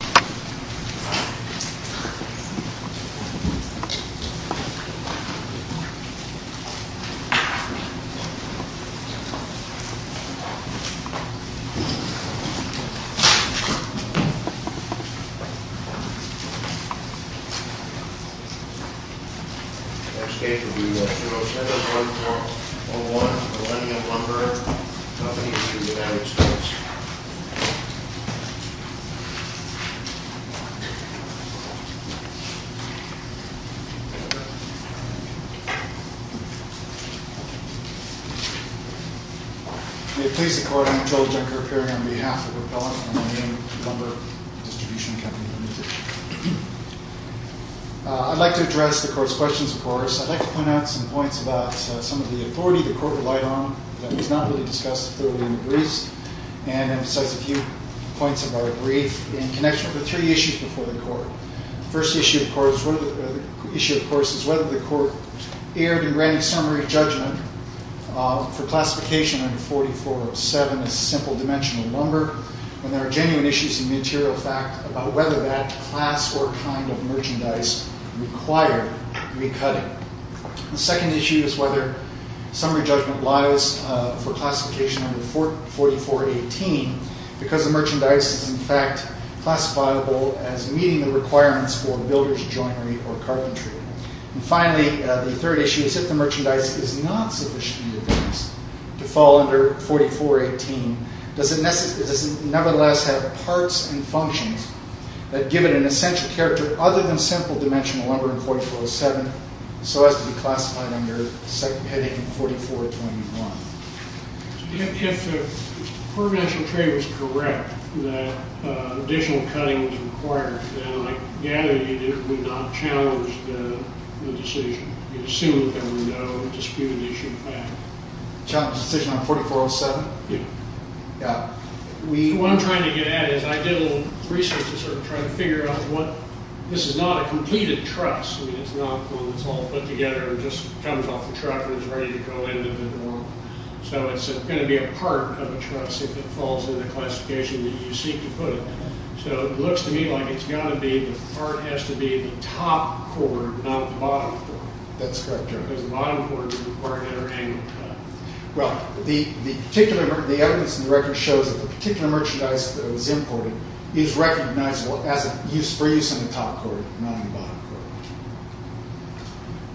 Next case will be 207-1401, Millennium Lumber Company, Distribution Company Limited. I'd like to address the court's questions of course. I'd like to point out some points about some of the authority the court relied on that was not really discussed thoroughly in the briefs, and emphasize a few points of our brief in connection with three issues before the court. The first issue of course is whether the court erred in granting summary judgment for classification under 4407 as simple dimensional lumber, and there are genuine issues in the material fact about whether that class or kind of merchandise required recutting. The second issue is whether summary judgment lies for classification under 4418 because the merchandise is in fact classifiable as meeting the requirements for builder's joinery or carpentry. And finally, the third issue is if the merchandise is not sufficiently advanced to fall under 4418, does it nevertheless have parts and functions that give it an essential character other than simple dimensional lumber in 4407 so as to be classified under heading 4421. If the court of national trade was correct that additional cutting was required, then I gather you would not challenge the decision. You'd assume that there were no disputed issues there. Challenge the decision on 4407? Yeah. What I'm trying to get at is I did a little research to sort of try to figure out what, this is not a completed truss. I mean it's not one that's all put together and just comes off the truck and is ready to go into the room. So it's going to be a part of a truss if it falls in the classification that you seek to put it. So it looks to me like it's got to be, the part has to be the top cord, not the bottom cord. That's correct. Because the bottom cord is required at every angle. Well, the evidence in the record shows that the particular merchandise that was imported is recognizable for use in the top cord, not in the bottom cord.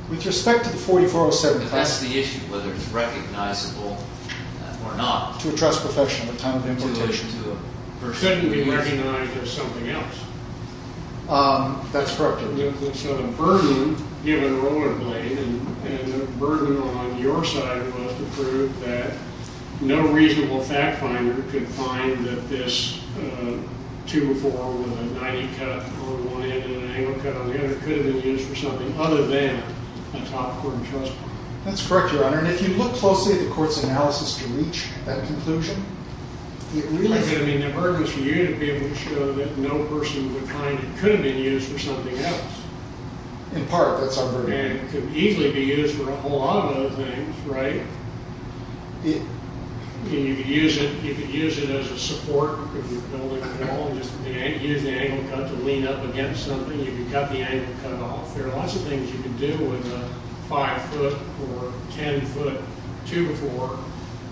With respect to the 4407... That's the issue, whether it's recognizable or not. To a truss profession at the time of importation. Shouldn't it be recognized as something else? That's correct. So the burden given Rollerblade and the burden on your side was to prove that no reasonable fact finder could find that this 204 with a 90 cut on one end and an angle cut on the other could have been used for something other than a top cord truss. That's correct, Your Honor. And if you look closely at the court's analysis to reach that conclusion, it really could have been the burden for you to be able to show that no person would find it could have been used for something else. In part, that's our burden. And it could easily be used for a whole lot of other things, right? And you could use it as a support. You can use the angle cut to lean up against something. You can cut the angle cut off. There are lots of things you can do with a 5-foot or 10-foot 2x4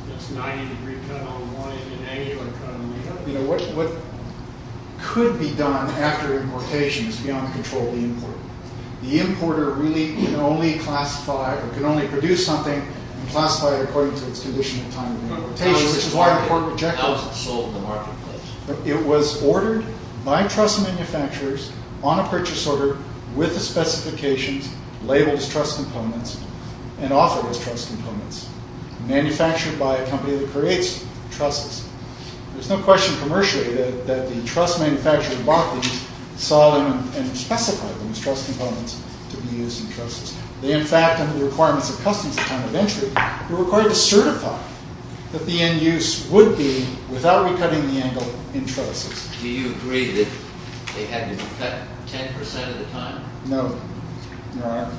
that's 90-degree cut on one end and angular cut on the other. What could be done after importation is beyond the control of the importer. The importer really can only classify or can only produce something and classify it according to its condition at the time of importation, which is why the court rejected it. How was it sold in the marketplace? It was ordered by truss manufacturers on a purchase order with the specifications, labeled as truss components, and offered as truss components, manufactured by a company that creates trusses. There's no question commercially that the truss manufacturer who bought these saw them and specified them as truss components to be used in trusses. They, in fact, under the requirements of customs at the time of entry, were required to certify that the end use would be without recutting the angle in trusses. Do you agree that they had to be cut 10% of the time? No, Your Honor.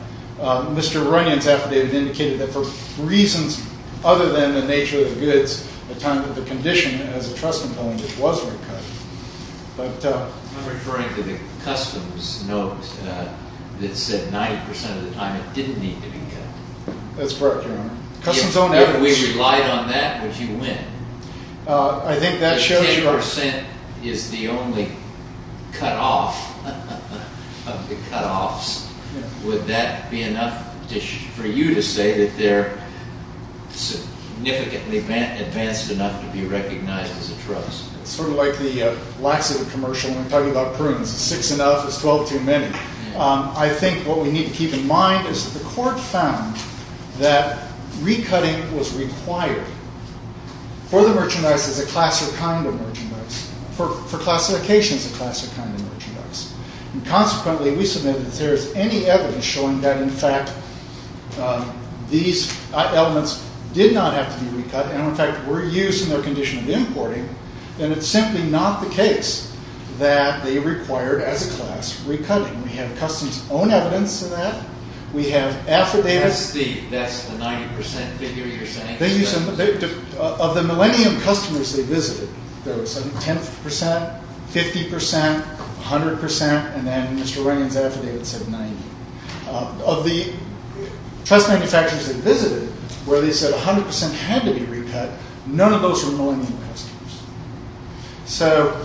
Mr. Aronian's affidavit indicated that for reasons other than the nature of the goods, at the time of the condition as a truss component, it was recut. I'm referring to the customs note that said 90% of the time it didn't need to be cut. That's correct, Your Honor. If we relied on that, would you win? I think that shows... If 10% is the only cut-off of the cut-offs, would that be enough for you to say that they're significantly advanced enough to be recognized as a truss? Sort of like the laxative commercial when we talk about prunes, six enough is twelve too many. I think what we need to keep in mind is that the court found that recutting was required for the merchandise as a class or kind of merchandise, for classification as a class or kind of merchandise. Consequently, we submitted that there is any evidence showing that, in fact, these elements did not have to be recut and, in fact, were used in their condition of importing, then it's simply not the case that they required, as a class, recutting. We have customs' own evidence of that. We have affidavits... That's the 90% figure you're saying? Of the millennium customers they visited, there was, I think, 10%, 50%, 100%, and then Mr. Wengen's affidavit said 90%. Of the truss manufacturers they visited where they said 100% had to be recut, none of those were millennium customers. So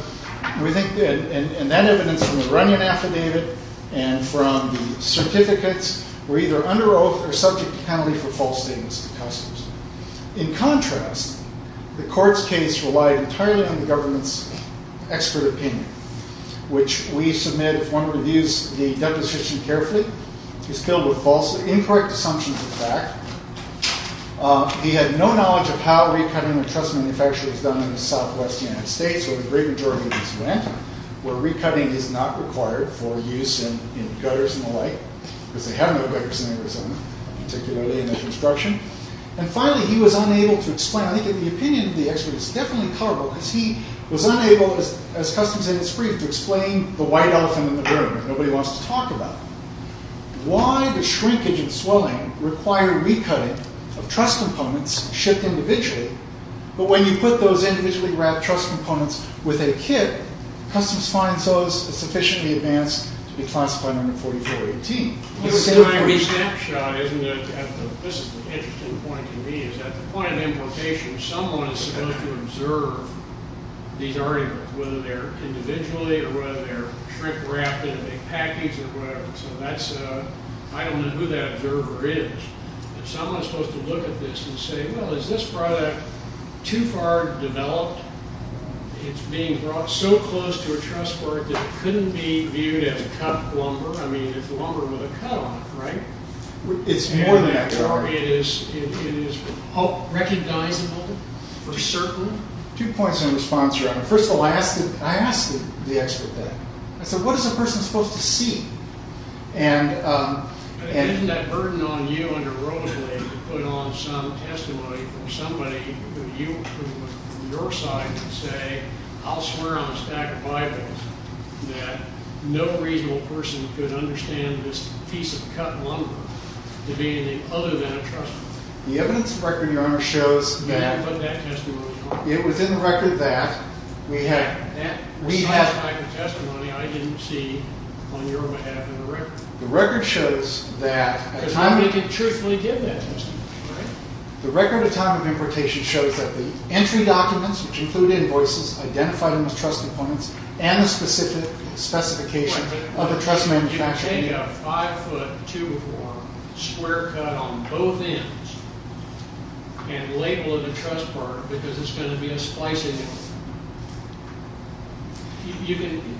we think that evidence from the Runyon affidavit and from the certificates were either under oath or subject to penalty for false statements of customs. In contrast, the court's case relied entirely on the government's expert opinion, which we submit, if one reviews the deposition carefully, is filled with incorrect assumptions of fact. He had no knowledge of how recutting of truss manufacturers was done in the southwest United States, where the great majority of these went, where recutting is not required for use in gutters and the like, because they have no gutters in Arizona, particularly in the construction. And finally, he was unable to explain... I think that the opinion of the expert is definitely colorable, because he was unable, as customs said in his brief, to explain the white elephant in the room that nobody wants to talk about. Why does shrinkage and swelling require recutting of truss components shipped individually, but when you put those individually wrapped truss components with a kit, customs finds those sufficiently advanced to be classified under 4418? This is an interesting point to me. At the point of importation, someone is supposed to observe these articles, whether they're individually or whether they're shrink-wrapped in a big package, so I don't know who that observer is. But someone is supposed to look at this and say, well, is this product too far developed? It's being brought so close to a truss board that it couldn't be viewed as cut lumber. I mean, it's lumber with a cut on it, right? It's more than that, Gary. It is recognizable for certain? Two points in response to that. First of all, I asked the expert that. I said, what is a person supposed to see? Isn't that burden on you and your role today to put on some testimony from somebody, from your side, and say, I'll swear on a stack of Bibles, that no reasonable person could understand this piece of cut lumber to be anything other than a truss board? The evidence of record, Your Honor, shows that. You haven't put that testimony on. It was in the record that we had. That was not my testimony. I didn't see, on your behalf, in the record. The record shows that. Because nobody could truthfully give that testimony, right? The record of time of importation shows that the entry documents, which included invoices, identified them as truss deployments, and the specific specification of the truss manufacturer. You can take a five-foot two-by-four square cut on both ends and label it a truss board because it's going to be a splice angle.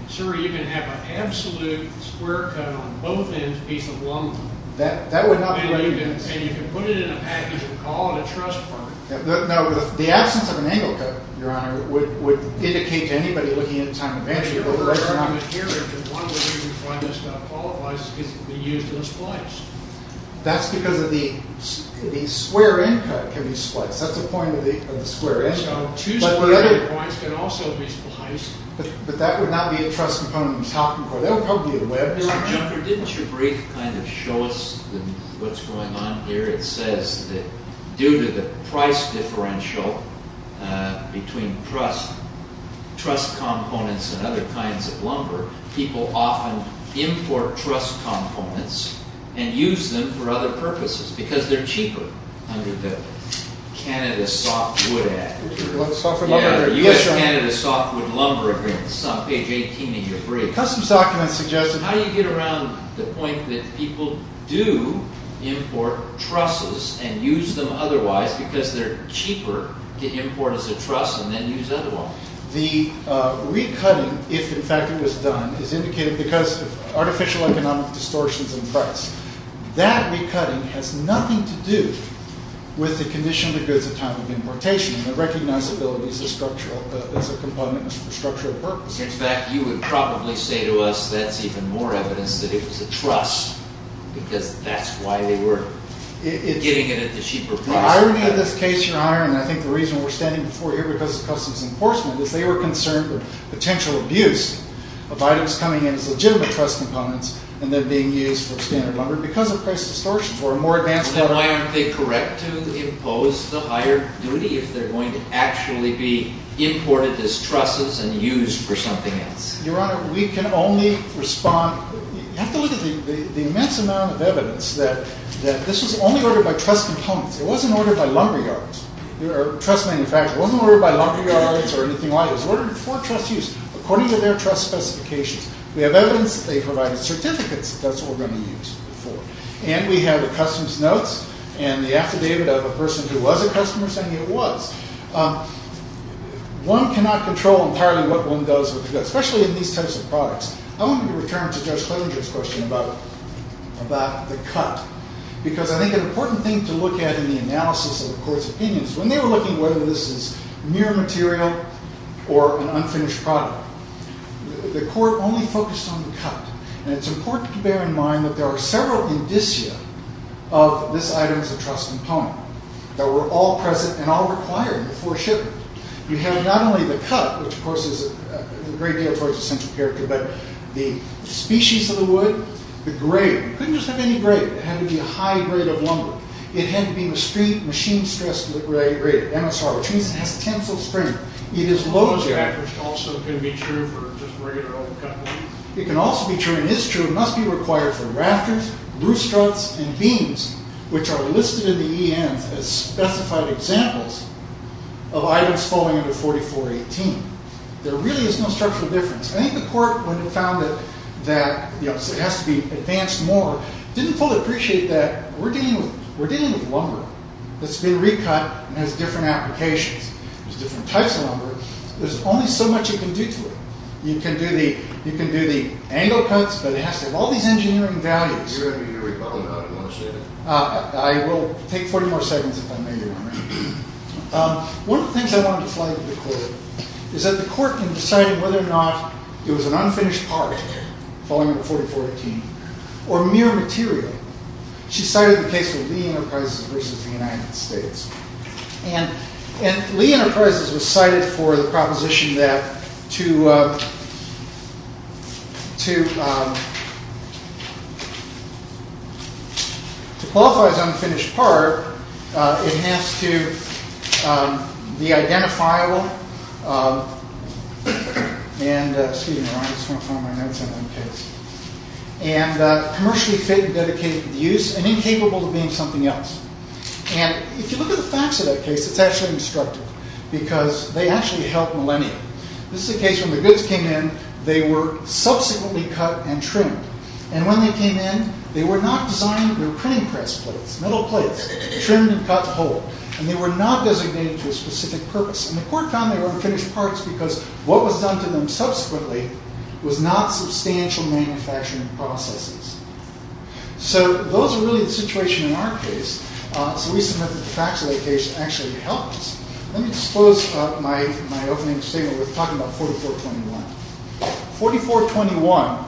Sir, you can have an absolute square cut on both ends of a piece of lumber. That would not be the case. And you can put it in a package and call it a truss board. The absence of an angle cut, Your Honor, would indicate to anybody looking at the time of importation. The only reason you would find this stuff qualifies is because it would be used in a splice. That's because the square end cut can be spliced. That's the point of the square end cut. Two-sided points can also be spliced. But that would not be a truss component. That would probably be a wedge. Your Honor, didn't your brief kind of show us what's going on here? It says that due to the price differential between truss components and other kinds of lumber, people often import truss components and use them for other purposes because they're cheaper under the Canada Softwood Act. Softwood lumber? Yeah, the U.S. Canada Softwood Lumber Agreement. It's on page 18 in your brief. Customs documents suggested... How do you get around the point that people do import trusses and use them otherwise because they're cheaper to import as a truss and then use otherwise? The recutting, if in fact it was done, is indicated because of artificial economic distortions in price. That recutting has nothing to do with the condition of the goods at time of importation. The recognizability is a structural component for structural purposes. In fact, you would probably say to us that's even more evidence that it was a truss because that's why they were getting it at the cheaper price. The irony of this case, Your Honor, and I think the reason we're standing before you because of Customs Enforcement, is they were concerned with potential abuse of items coming in as legitimate truss components and then being used for standard lumber because of price distortions or a more advanced... Then why aren't they correct to impose the higher duty if they're going to actually be imported as trusses and used for something else? Your Honor, we can only respond... You have to look at the immense amount of evidence that this was only ordered by truss components. It wasn't ordered by lumber yards or truss manufacturers. It wasn't ordered by lumber yards or anything like that. It was ordered for truss use according to their truss specifications. We have evidence that they provided certificates that that's what we're going to use it for. And we have the customs notes and the affidavit of a person who was a customer saying it was. One cannot control entirely what one does with the goods, especially in these types of products. I want to return to Judge Klinger's question about the cut because I think an important thing to look at in the analysis of the court's opinions when they were looking whether this is mere material or an unfinished product, the court only focused on the cut. And it's important to bear in mind that there are several indicia of this item as a truss component that were all present and all required before shipment. We have not only the cut, which of course is a great deal towards the central character, but the species of the wood, the grade. It couldn't just have any grade. It had to be a high grade of lumber. It had to be machine stressed grade, MSR, which means it has tensile strength. It is loaded. It can also be true and is true. It must be required for rafters, roof struts, and beams, which are listed in the ENs as specified examples of items falling under 4418. There really is no structural difference. I think the court, when it found that it has to be advanced more, didn't fully appreciate that we're dealing with lumber that's been recut and has different applications. There's different types of lumber. There's only so much you can do to it. You can do the angle cuts, but it has to have all these engineering values. You're going to need to recut them out in one statement. I will take 40 more seconds if I may, Your Honor. One of the things I wanted to flag to the court is that the court, in deciding whether or not it was an unfinished part, falling under 4418, or mere material, she cited the case of Lee Enterprises versus the United States. And Lee Enterprises was cited for the proposition that to qualify as unfinished part, it has to be identifiable and commercially fit and dedicated to use and incapable of being something else. If you look at the facts of that case, it's actually destructive because they actually helped millennia. This is a case where the goods came in. They were subsequently cut and trimmed. And when they came in, they were not designed. They were printing press plates, metal plates, trimmed and cut whole. And they were not designated to a specific purpose. And the court found they were unfinished parts because what was done to them subsequently was not substantial manufacturing processes. So those are really the situation in our case. So we submit that the facts of that case actually helped us. Let me just close up my opening statement with talking about 4421. 4421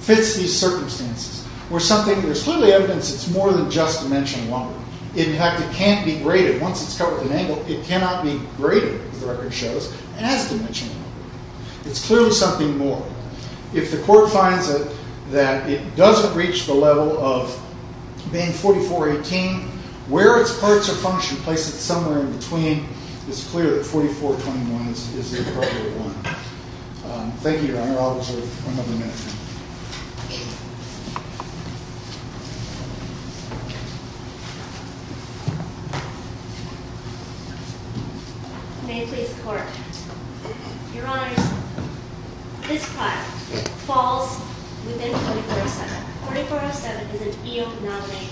fits these circumstances. There's clearly evidence it's more than just dimension one. In fact, it can't be graded. Once it's cut with an angle, it cannot be graded, as the record shows, as dimension one. It's clearly something more. If the court finds that it doesn't reach the level of being 4418, where its parts are functioned, place it somewhere in between, it's clear that 4421 is the appropriate one. Thank you, Your Honor. I'll reserve one other minute. May it please the court. Your Honor, this part falls within 4407. 4407 is an eonomic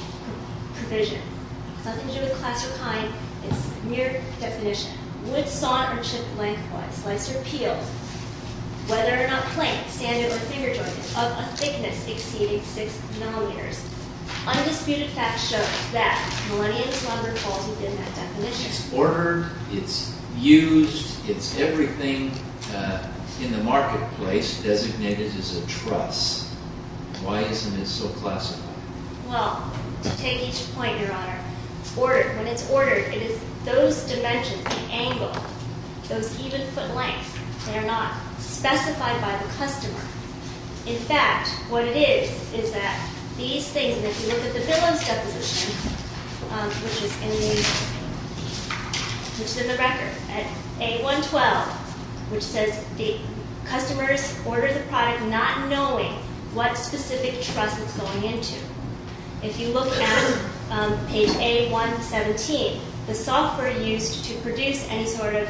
provision. It's nothing to do with class or kind. It's mere definition. Wood sawn or chipped lengthwise, sliced or peeled, whether or not plain, standard, or finger-jointed, of a thickness exceeding 6 millimeters. Undisputed facts show that Millennium is longer quality than that definition. It's ordered. It's used. It's everything in the marketplace designated as a truss. Why isn't it so classified? Well, to take each point, Your Honor, when it's ordered, it is those dimensions, the angle, those even foot lengths. They are not specified by the customer. In fact, what it is, is that these things, and if you look at the Billings Deposition, which is in the record, at A112, which says the customers order the product not knowing what specific truss it's going into. If you look at page A117, the software used to produce any sort of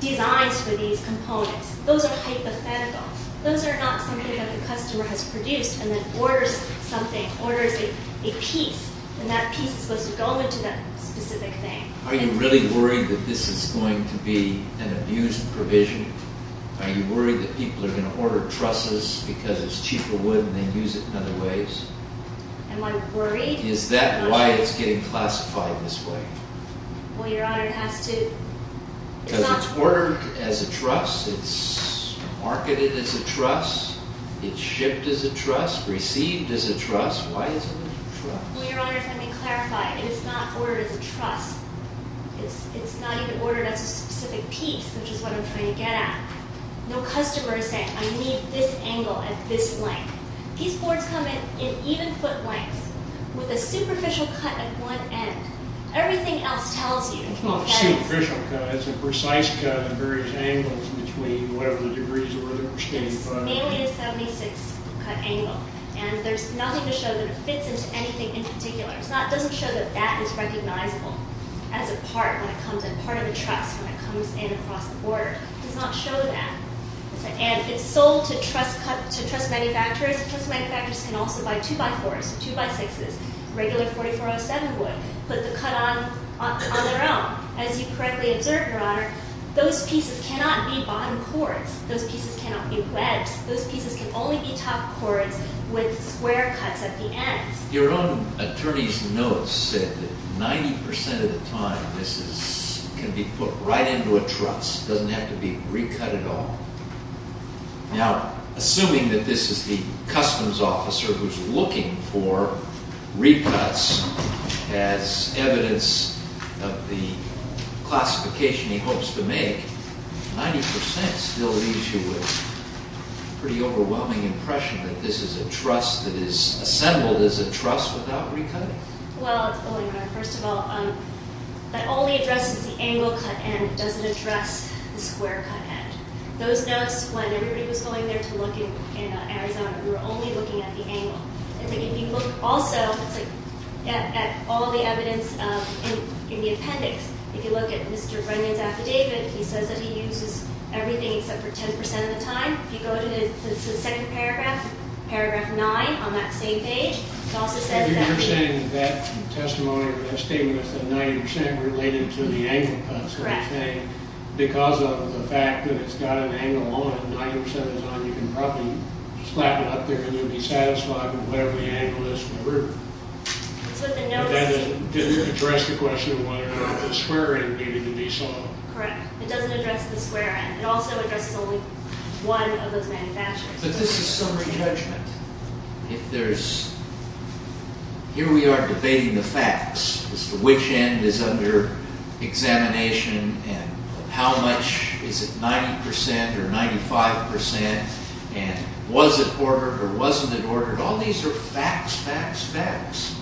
designs for these components, those are hypothetical. Those are not something that the customer has produced and then orders something, orders a piece, and that piece is supposed to go into that specific thing. Are you really worried that this is going to be an abused provision? Are you worried that people are going to order trusses because it's cheaper wood and they use it in other ways? Am I worried? Is that why it's getting classified this way? Well, Your Honor, it has to... Because it's ordered as a truss, it's marketed as a truss, it's shipped as a truss, received as a truss. Why isn't it a truss? Well, Your Honor, if I may clarify, it is not ordered as a truss. It's not even ordered as a specific piece, which is what I'm trying to get at. No customer is saying, I need this angle at this length. These boards come in in even foot lengths with a superficial cut at one end. Everything else tells you that it's... It's not a superficial cut. It's a precise cut at various angles between whatever the degrees were that we're standing in front of. It's mainly a 76-cut angle, and there's nothing to show that it fits into anything in particular. It doesn't show that that is recognizable as a part when it comes in, part of the truss when it comes in across the board. It does not show that. And it's sold to truss manufacturers. Truss manufacturers can also buy 2x4s, 2x6s, regular 4407 wood, put the cut on their own. As you correctly observed, Your Honor, those pieces cannot be bottom cords. Those pieces cannot be webs. Those pieces can only be top cords with square cuts at the ends. Your own attorney's notes said that 90% of the time, this can be put right into a truss. It doesn't have to be recut at all. Now, assuming that this is the customs officer who's looking for recuts as evidence of the classification he hopes to make, 90% still leaves you with a pretty overwhelming impression that this is a truss that is assembled as a truss without recutting. Well, Your Honor, first of all, that only addresses the angle cut end. It doesn't address the square cut end. Those notes, when everybody was going there to look in Arizona, we were only looking at the angle. If you look also at all the evidence in the appendix, if you look at Mr. Brennan's affidavit, he says that he uses everything except for 10% of the time. If you go to the second paragraph, paragraph 9, on that same page, it also says that... You're saying that testimony or that statement was that 90% related to the angle cut sort of thing. Correct. Because of the fact that it's got an angle on it 90% of the time, you can probably slap it up there and you'll be satisfied with whatever the angle is. So the notes... It didn't address the question of whether the square end needed to be sawed. Correct. It doesn't address the square end. It also addresses only one of those manufacturers. But this is summary judgment. If there's... Here we are debating the facts as to which end is under examination and how much is it 90% or 95% and was it ordered or wasn't it ordered. All these are facts, facts, facts.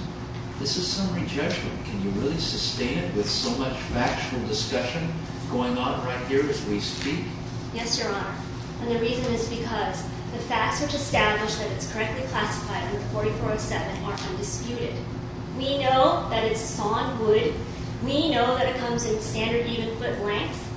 This is summary judgment. Can you really sustain it with so much factual discussion going on right here as we speak? Yes, Your Honor. And the reason is because the facts which establish that it's correctly classified under 4407 are undisputed. We know that it's sawed wood. We know that it comes in standard even foot length.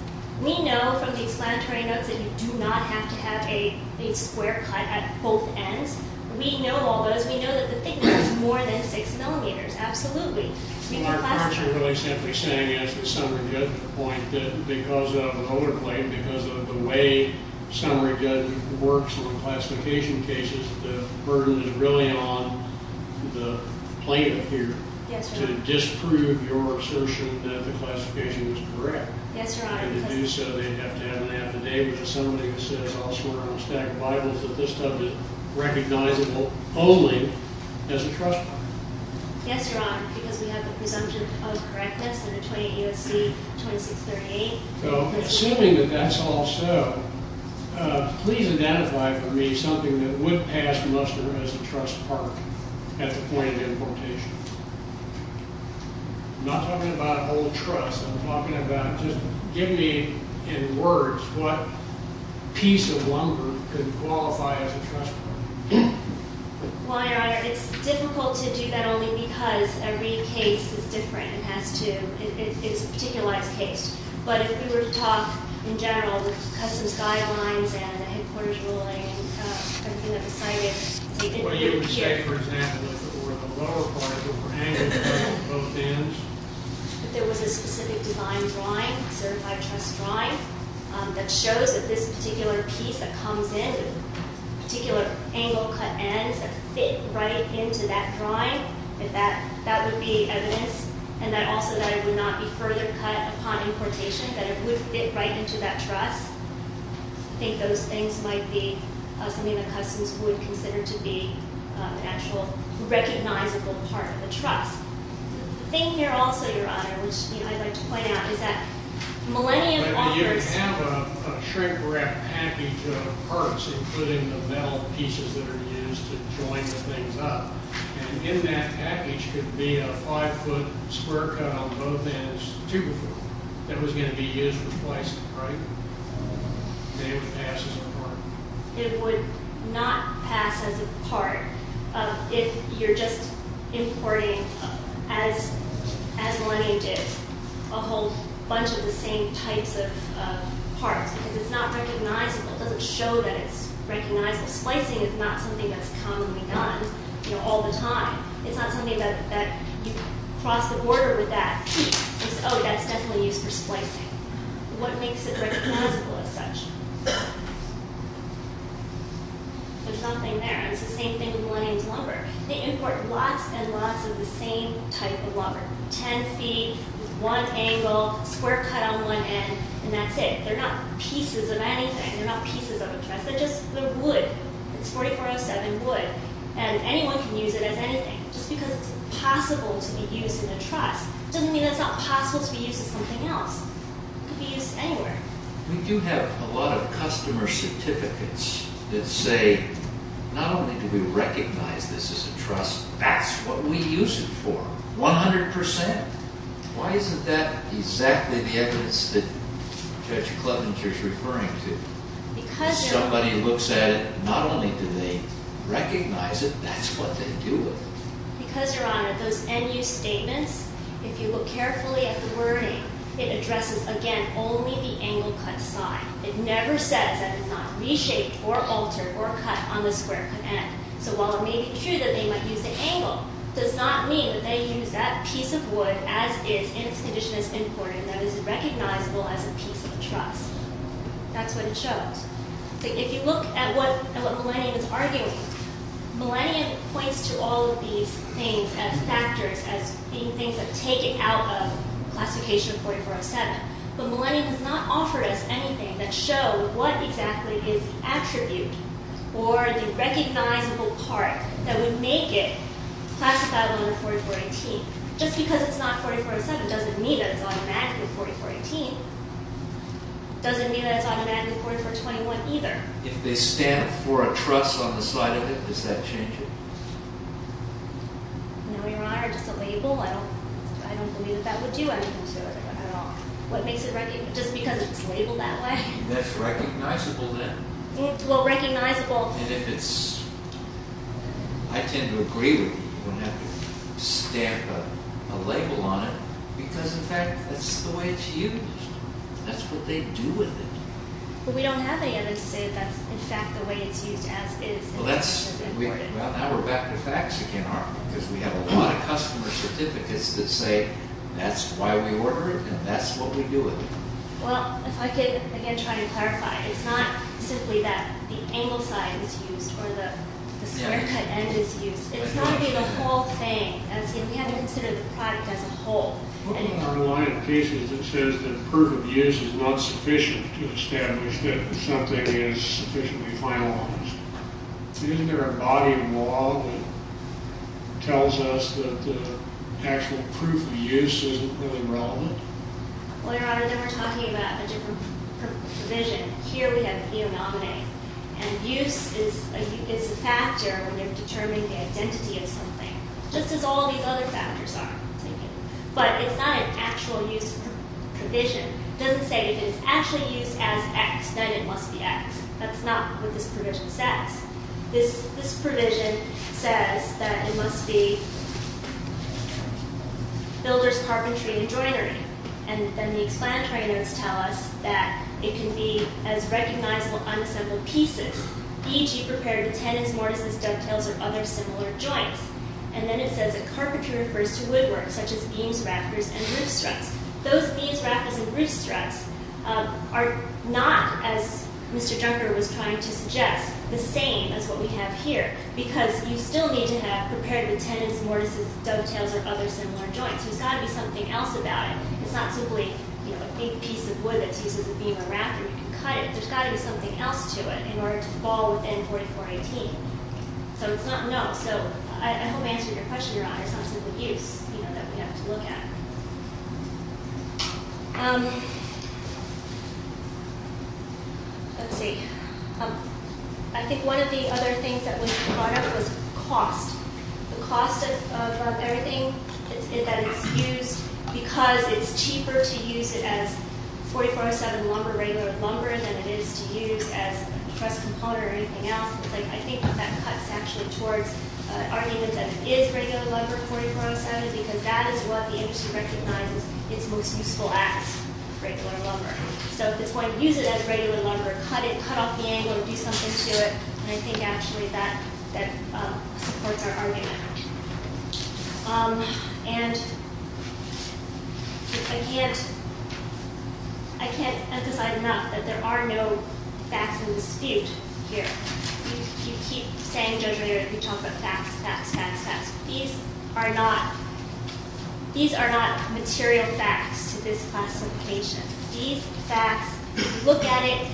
We know from the explanatory notes that you do not have to have a square cut at both ends. We know all those. We know that the thickness is more than 6 millimeters. Absolutely. My answer to what I'm simply saying is the summary judgment point that because of an older claim, because of the way summary judgment works on classification cases, the burden is really on the plaintiff here to disprove your assertion that the classification is correct. Yes, Your Honor. And to do so, they have to have an affidavit with somebody who says elsewhere on a stack of Bibles that this stuff is recognizable only as a trust part. Yes, Your Honor, because we have the presumption of correctness in the 28 U.S.C. 2638. Assuming that that's also, please identify for me something that would pass muster as a trust part at the point of importation. I'm not talking about old trust. I'm talking about just give me in words what piece of lumber could qualify as a trust part. Well, Your Honor, it's difficult to do that only because every case is different and has to. It's a particularized case. But if we were to talk in general with customs guidelines and headquarters ruling and everything that was cited... What you would say, for example, if it were in the lower part of the prohanged or both ends? If there was a specific design drawing, a certified trust drawing, that shows that this particular piece that comes in, particular angle-cut ends that fit right into that drawing, if that would be evidence, and also that it would not be further cut upon importation, that it would fit right into that trust, I think those things might be something that customs would consider to be an actual recognizable part of the trust. The thing here also, Your Honor, which I'd like to point out is that Millennium offers... You have a shrink-wrapped package of parts, including the metal pieces that are used to join the things up, and in that package could be a 5-foot square cut on both ends, 2-foot, that was going to be used for placing, right? It would pass as a part. It would not pass as a part if you're just importing as Millennium did a whole bunch of the same types of parts, because it's not recognizable. It doesn't show that it's recognizable. Splicing is not something that's commonly done all the time. It's not something that you cross the border with that. It's, oh, that's definitely used for splicing. What makes it recognizable as such? There's something there. It's the same thing with Millennium's lumber. They import lots and lots of the same type of lumber, 10 feet, one angle, square cut on one end, and that's it. They're not pieces of anything. They're not pieces of a truss. They're just wood. It's 4407 wood, and anyone can use it as anything. Just because it's possible to be used in a truss doesn't mean it's not possible to be used as something else. It could be used anywhere. We do have a lot of customer certificates that say, not only do we recognize this as a truss, that's what we use it for. 100%? Why isn't that exactly the evidence that Judge Klobuchar is referring to? Somebody looks at it. Not only do they recognize it, that's what they do with it. Because, Your Honor, those end use statements, if you look carefully at the wording, it addresses, again, only the angle cut side. It never says that it's not reshaped or altered or cut on the square cut end. So while it may be true that they might use the angle, it does not mean that they use that piece of wood, as is in its condition as imported, that is recognizable as a piece of a truss. That's what it shows. If you look at what Millennium is arguing, Millennium points to all of these things as factors, as being things that are taken out of Classification 4407. Or the recognizable part that would make it classifiable in 4418. Just because it's not 4407 doesn't mean that it's automatically 4418. Doesn't mean that it's automatically 4421 either. If they stamp for a truss on the side of it, does that change it? No, Your Honor. Just a label? I don't believe that that would do anything to it at all. Just because it's labeled that way? That's recognizable then. And if it's... I tend to agree with you when you stamp a label on it, because in fact that's the way it's used. That's what they do with it. But we don't have any evidence to say that's in fact the way it's used as is. Well, now we're back to facts again, aren't we? Because we have a lot of customer certificates that say that's why we order it and that's what we do with it. Well, if I could again try to clarify. It's not simply that the angle side is used or the square cut end is used. It's not really the whole thing. We have to consider the product as a whole. What about our line of cases that says that proof of use is not sufficient to establish that something is sufficiently finalized? Isn't there a body of law that tells us that the actual proof of use isn't really relevant? Well, Your Honor, then we're talking about a different provision. Here we have a phenomenon. And use is a factor when you're determining the identity of something, just as all these other factors are, I'm thinking. But it's not an actual use provision. It doesn't say if it's actually used as X, then it must be X. That's not what this provision says. This provision says that it must be builder's carpentry and joinery. And then the explanatory notes tell us that it can be as recognizable unassembled pieces, e.g., prepared tenons, mortises, dovetails, or other similar joints. And then it says that carpentry refers to woodwork, such as beams, rafters, and roof struts. Those beams, rafters, and roof struts are not, as Mr. Junker was trying to suggest, the same as what we have here, because you still need to have prepared the tenons, mortises, dovetails, or other similar joints. There's got to be something else about it. It's not simply a big piece of wood that's used as a beam or rafter. You can cut it. There's got to be something else to it in order to fall within 4418. So it's not, no. So I hope I answered your question, Your Honor. It's not simply use that we have to look at. Um, let's see. I think one of the other things that was brought up was cost. The cost of everything that is used, because it's cheaper to use it as 4407 lumber, regular lumber, than it is to use as a truss component or anything else. I think that cuts actually towards an argument that it is regular lumber, 4407, because that is what the industry recognizes is most useful as regular lumber. So if it's going to use it as regular lumber, cut it. Cut off the angle and do something to it. And I think, actually, that supports our argument. Um, and I can't, I can't emphasize enough that there are no facts in dispute here. You keep saying, Judge O'Leary, you talk about facts, facts, facts, facts. These are not, these are not material facts to this classification. These facts, if you look at it,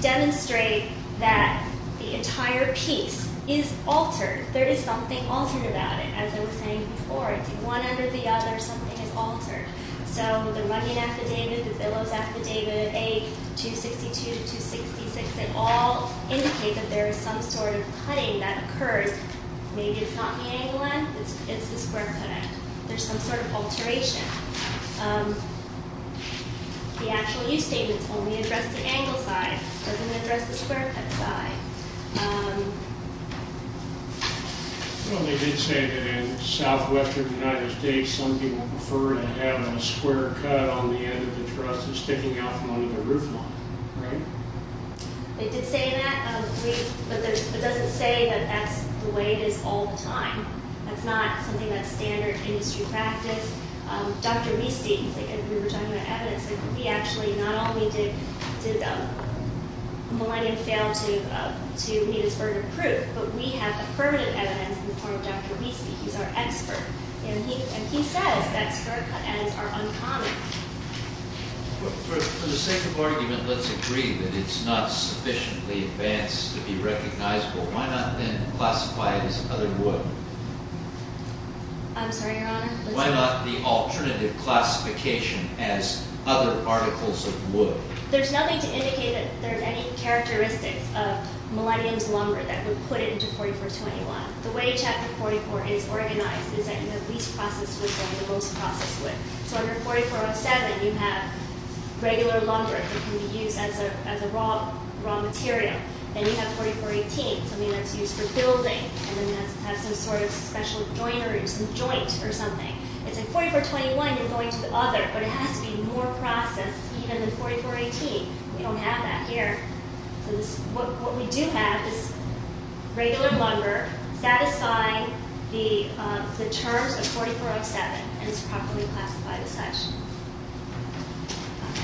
demonstrate that the entire piece is altered. There is something altered about it, as I was saying before. It's in one end or the other, something is altered. So the rugging affidavit, the billows affidavit, A262 to 266, they all indicate that there is some sort of cutting that occurred. Maybe it's not the angle end, it's the square cut end. There's some sort of alteration. Um, the actual use statements only address the angle side. It doesn't address the square cut side. Um. Well, they did say that in southwestern United States, some people prefer to have a square cut on the end of the truss than sticking out from under the roofline, right? They did say that, but it doesn't say that that's the way it is all the time. That's not something that's standard industry practice. Um, Dr. Wieste, we were talking about evidence. We actually, not only did Millennium fail to meet its burden of proof, but we have affirmative evidence in the form of Dr. Wieste. He's our expert, and he says that square cut ends are uncommon. For the sake of argument, let's agree that it's not sufficiently advanced to be recognizable. Why not then classify it as other wood? I'm sorry, Your Honor? Why not the alternative classification as other articles of wood? There's nothing to indicate that there are any characteristics of Millennium's lumber that would put it into 4421. The way Chapter 44 is organized is that you have least processed wood and the most processed wood. So under 4407, you have regular lumber that can be used as a raw material. Then you have 4418, something that's used for building, and then you have some sort of special joinery, some joint or something. It's in 4421, you're going to the other, but it has to be more processed, even in 4418. We don't have that here. What we do have is regular lumber satisfying the terms of 4407, and it's properly classified as such.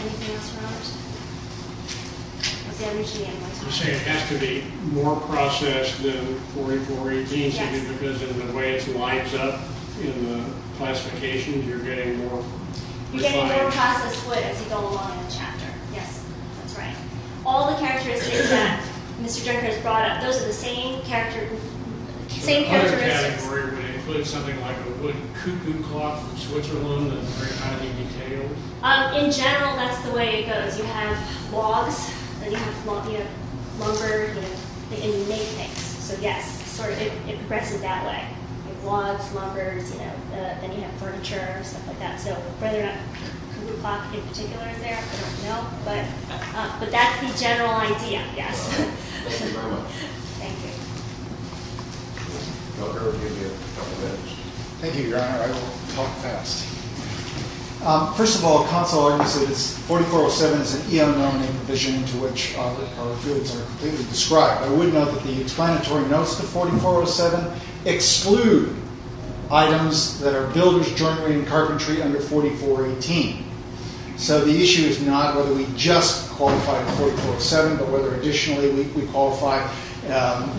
Anything else, Your Honor? You're saying it has to be more processed than 4418? Yes. Because of the way it lines up in the classification, you're getting more? You're getting more processed wood as you go along in the chapter. Yes, that's right. All the characteristics that Mr. Jenkins brought up, those are the same characteristics. Does that category include something like a wood cuckoo clock from Switzerland that's very highly detailed? In general, that's the way it goes. You have logs, then you have lumber, and you name things. So yes, it progresses that way. Logs, lumber, then you have furniture, stuff like that. So whether or not cuckoo clock in particular is there, I don't know. But that's the general idea, yes. Thank you, Your Honor. Thank you. Thank you, Your Honor. I will talk fast. First of all, Council argues that 4407 is an EM-nominated provision to which our goods are completely described. I would note that the explanatory notes to 4407 exclude items that are builders jointly in carpentry under 4418. So the issue is not whether we just qualify in 4407, but whether additionally we qualify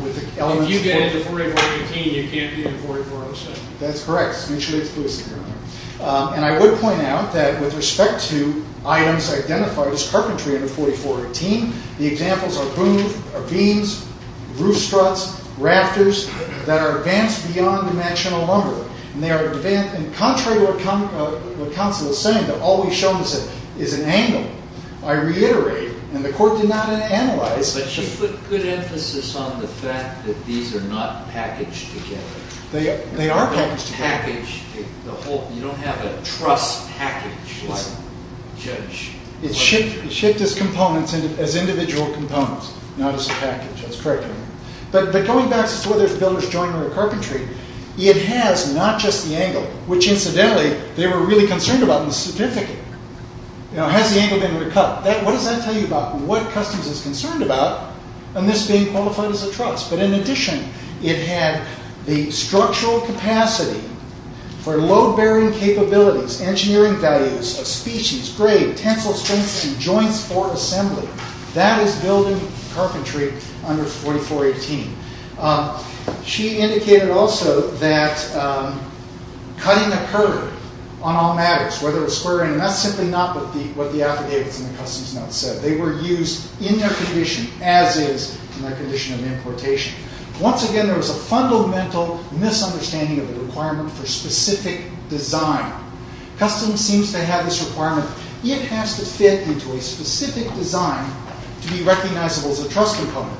with the elements of 4418. Under 4418, you can't be in 4407. That's correct. It's mutually exclusive, Your Honor. And I would point out that with respect to items identified as carpentry under 4418, the examples are booms, are beams, roof struts, rafters, that are advanced beyond dimensional lumber. And they are advanced. And contrary to what Council is saying, that all we've shown is an angle, I reiterate, and the Court did not analyze. But she put good emphasis on the fact that these are not packaged together. They are packaged together. You don't have a truss package. It's shipped as individual components, not as a package. That's correct, Your Honor. But going back to whether it's builders jointly in carpentry, it has not just the angle, which incidentally they were really concerned about in the certificate. Has the angle been recut? What does that tell you about what Customs is concerned about in this being qualified as a truss? But in addition, it had the structural capacity for load-bearing capabilities, engineering values, species, grade, tensile strength, and joints for assembly. That is building carpentry under 4418. She indicated also that cutting occurred on all matters, whether it was square in That's simply not what the affidavits in the Customs note said. They were used in their condition, as is in their condition of importation. Once again, there was a fundamental misunderstanding of the requirement for specific design. Customs seems to have this requirement, it has to fit into a specific design to be recognizable as a truss component,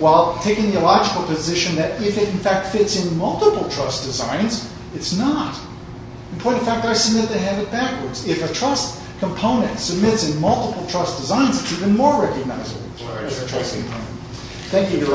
while taking the illogical position that if it in fact fits in multiple truss designs, it's not. In point of fact, I submit they have it backwards. If a truss component submits in multiple truss designs, it's even more recognizable as a truss component. Thank you.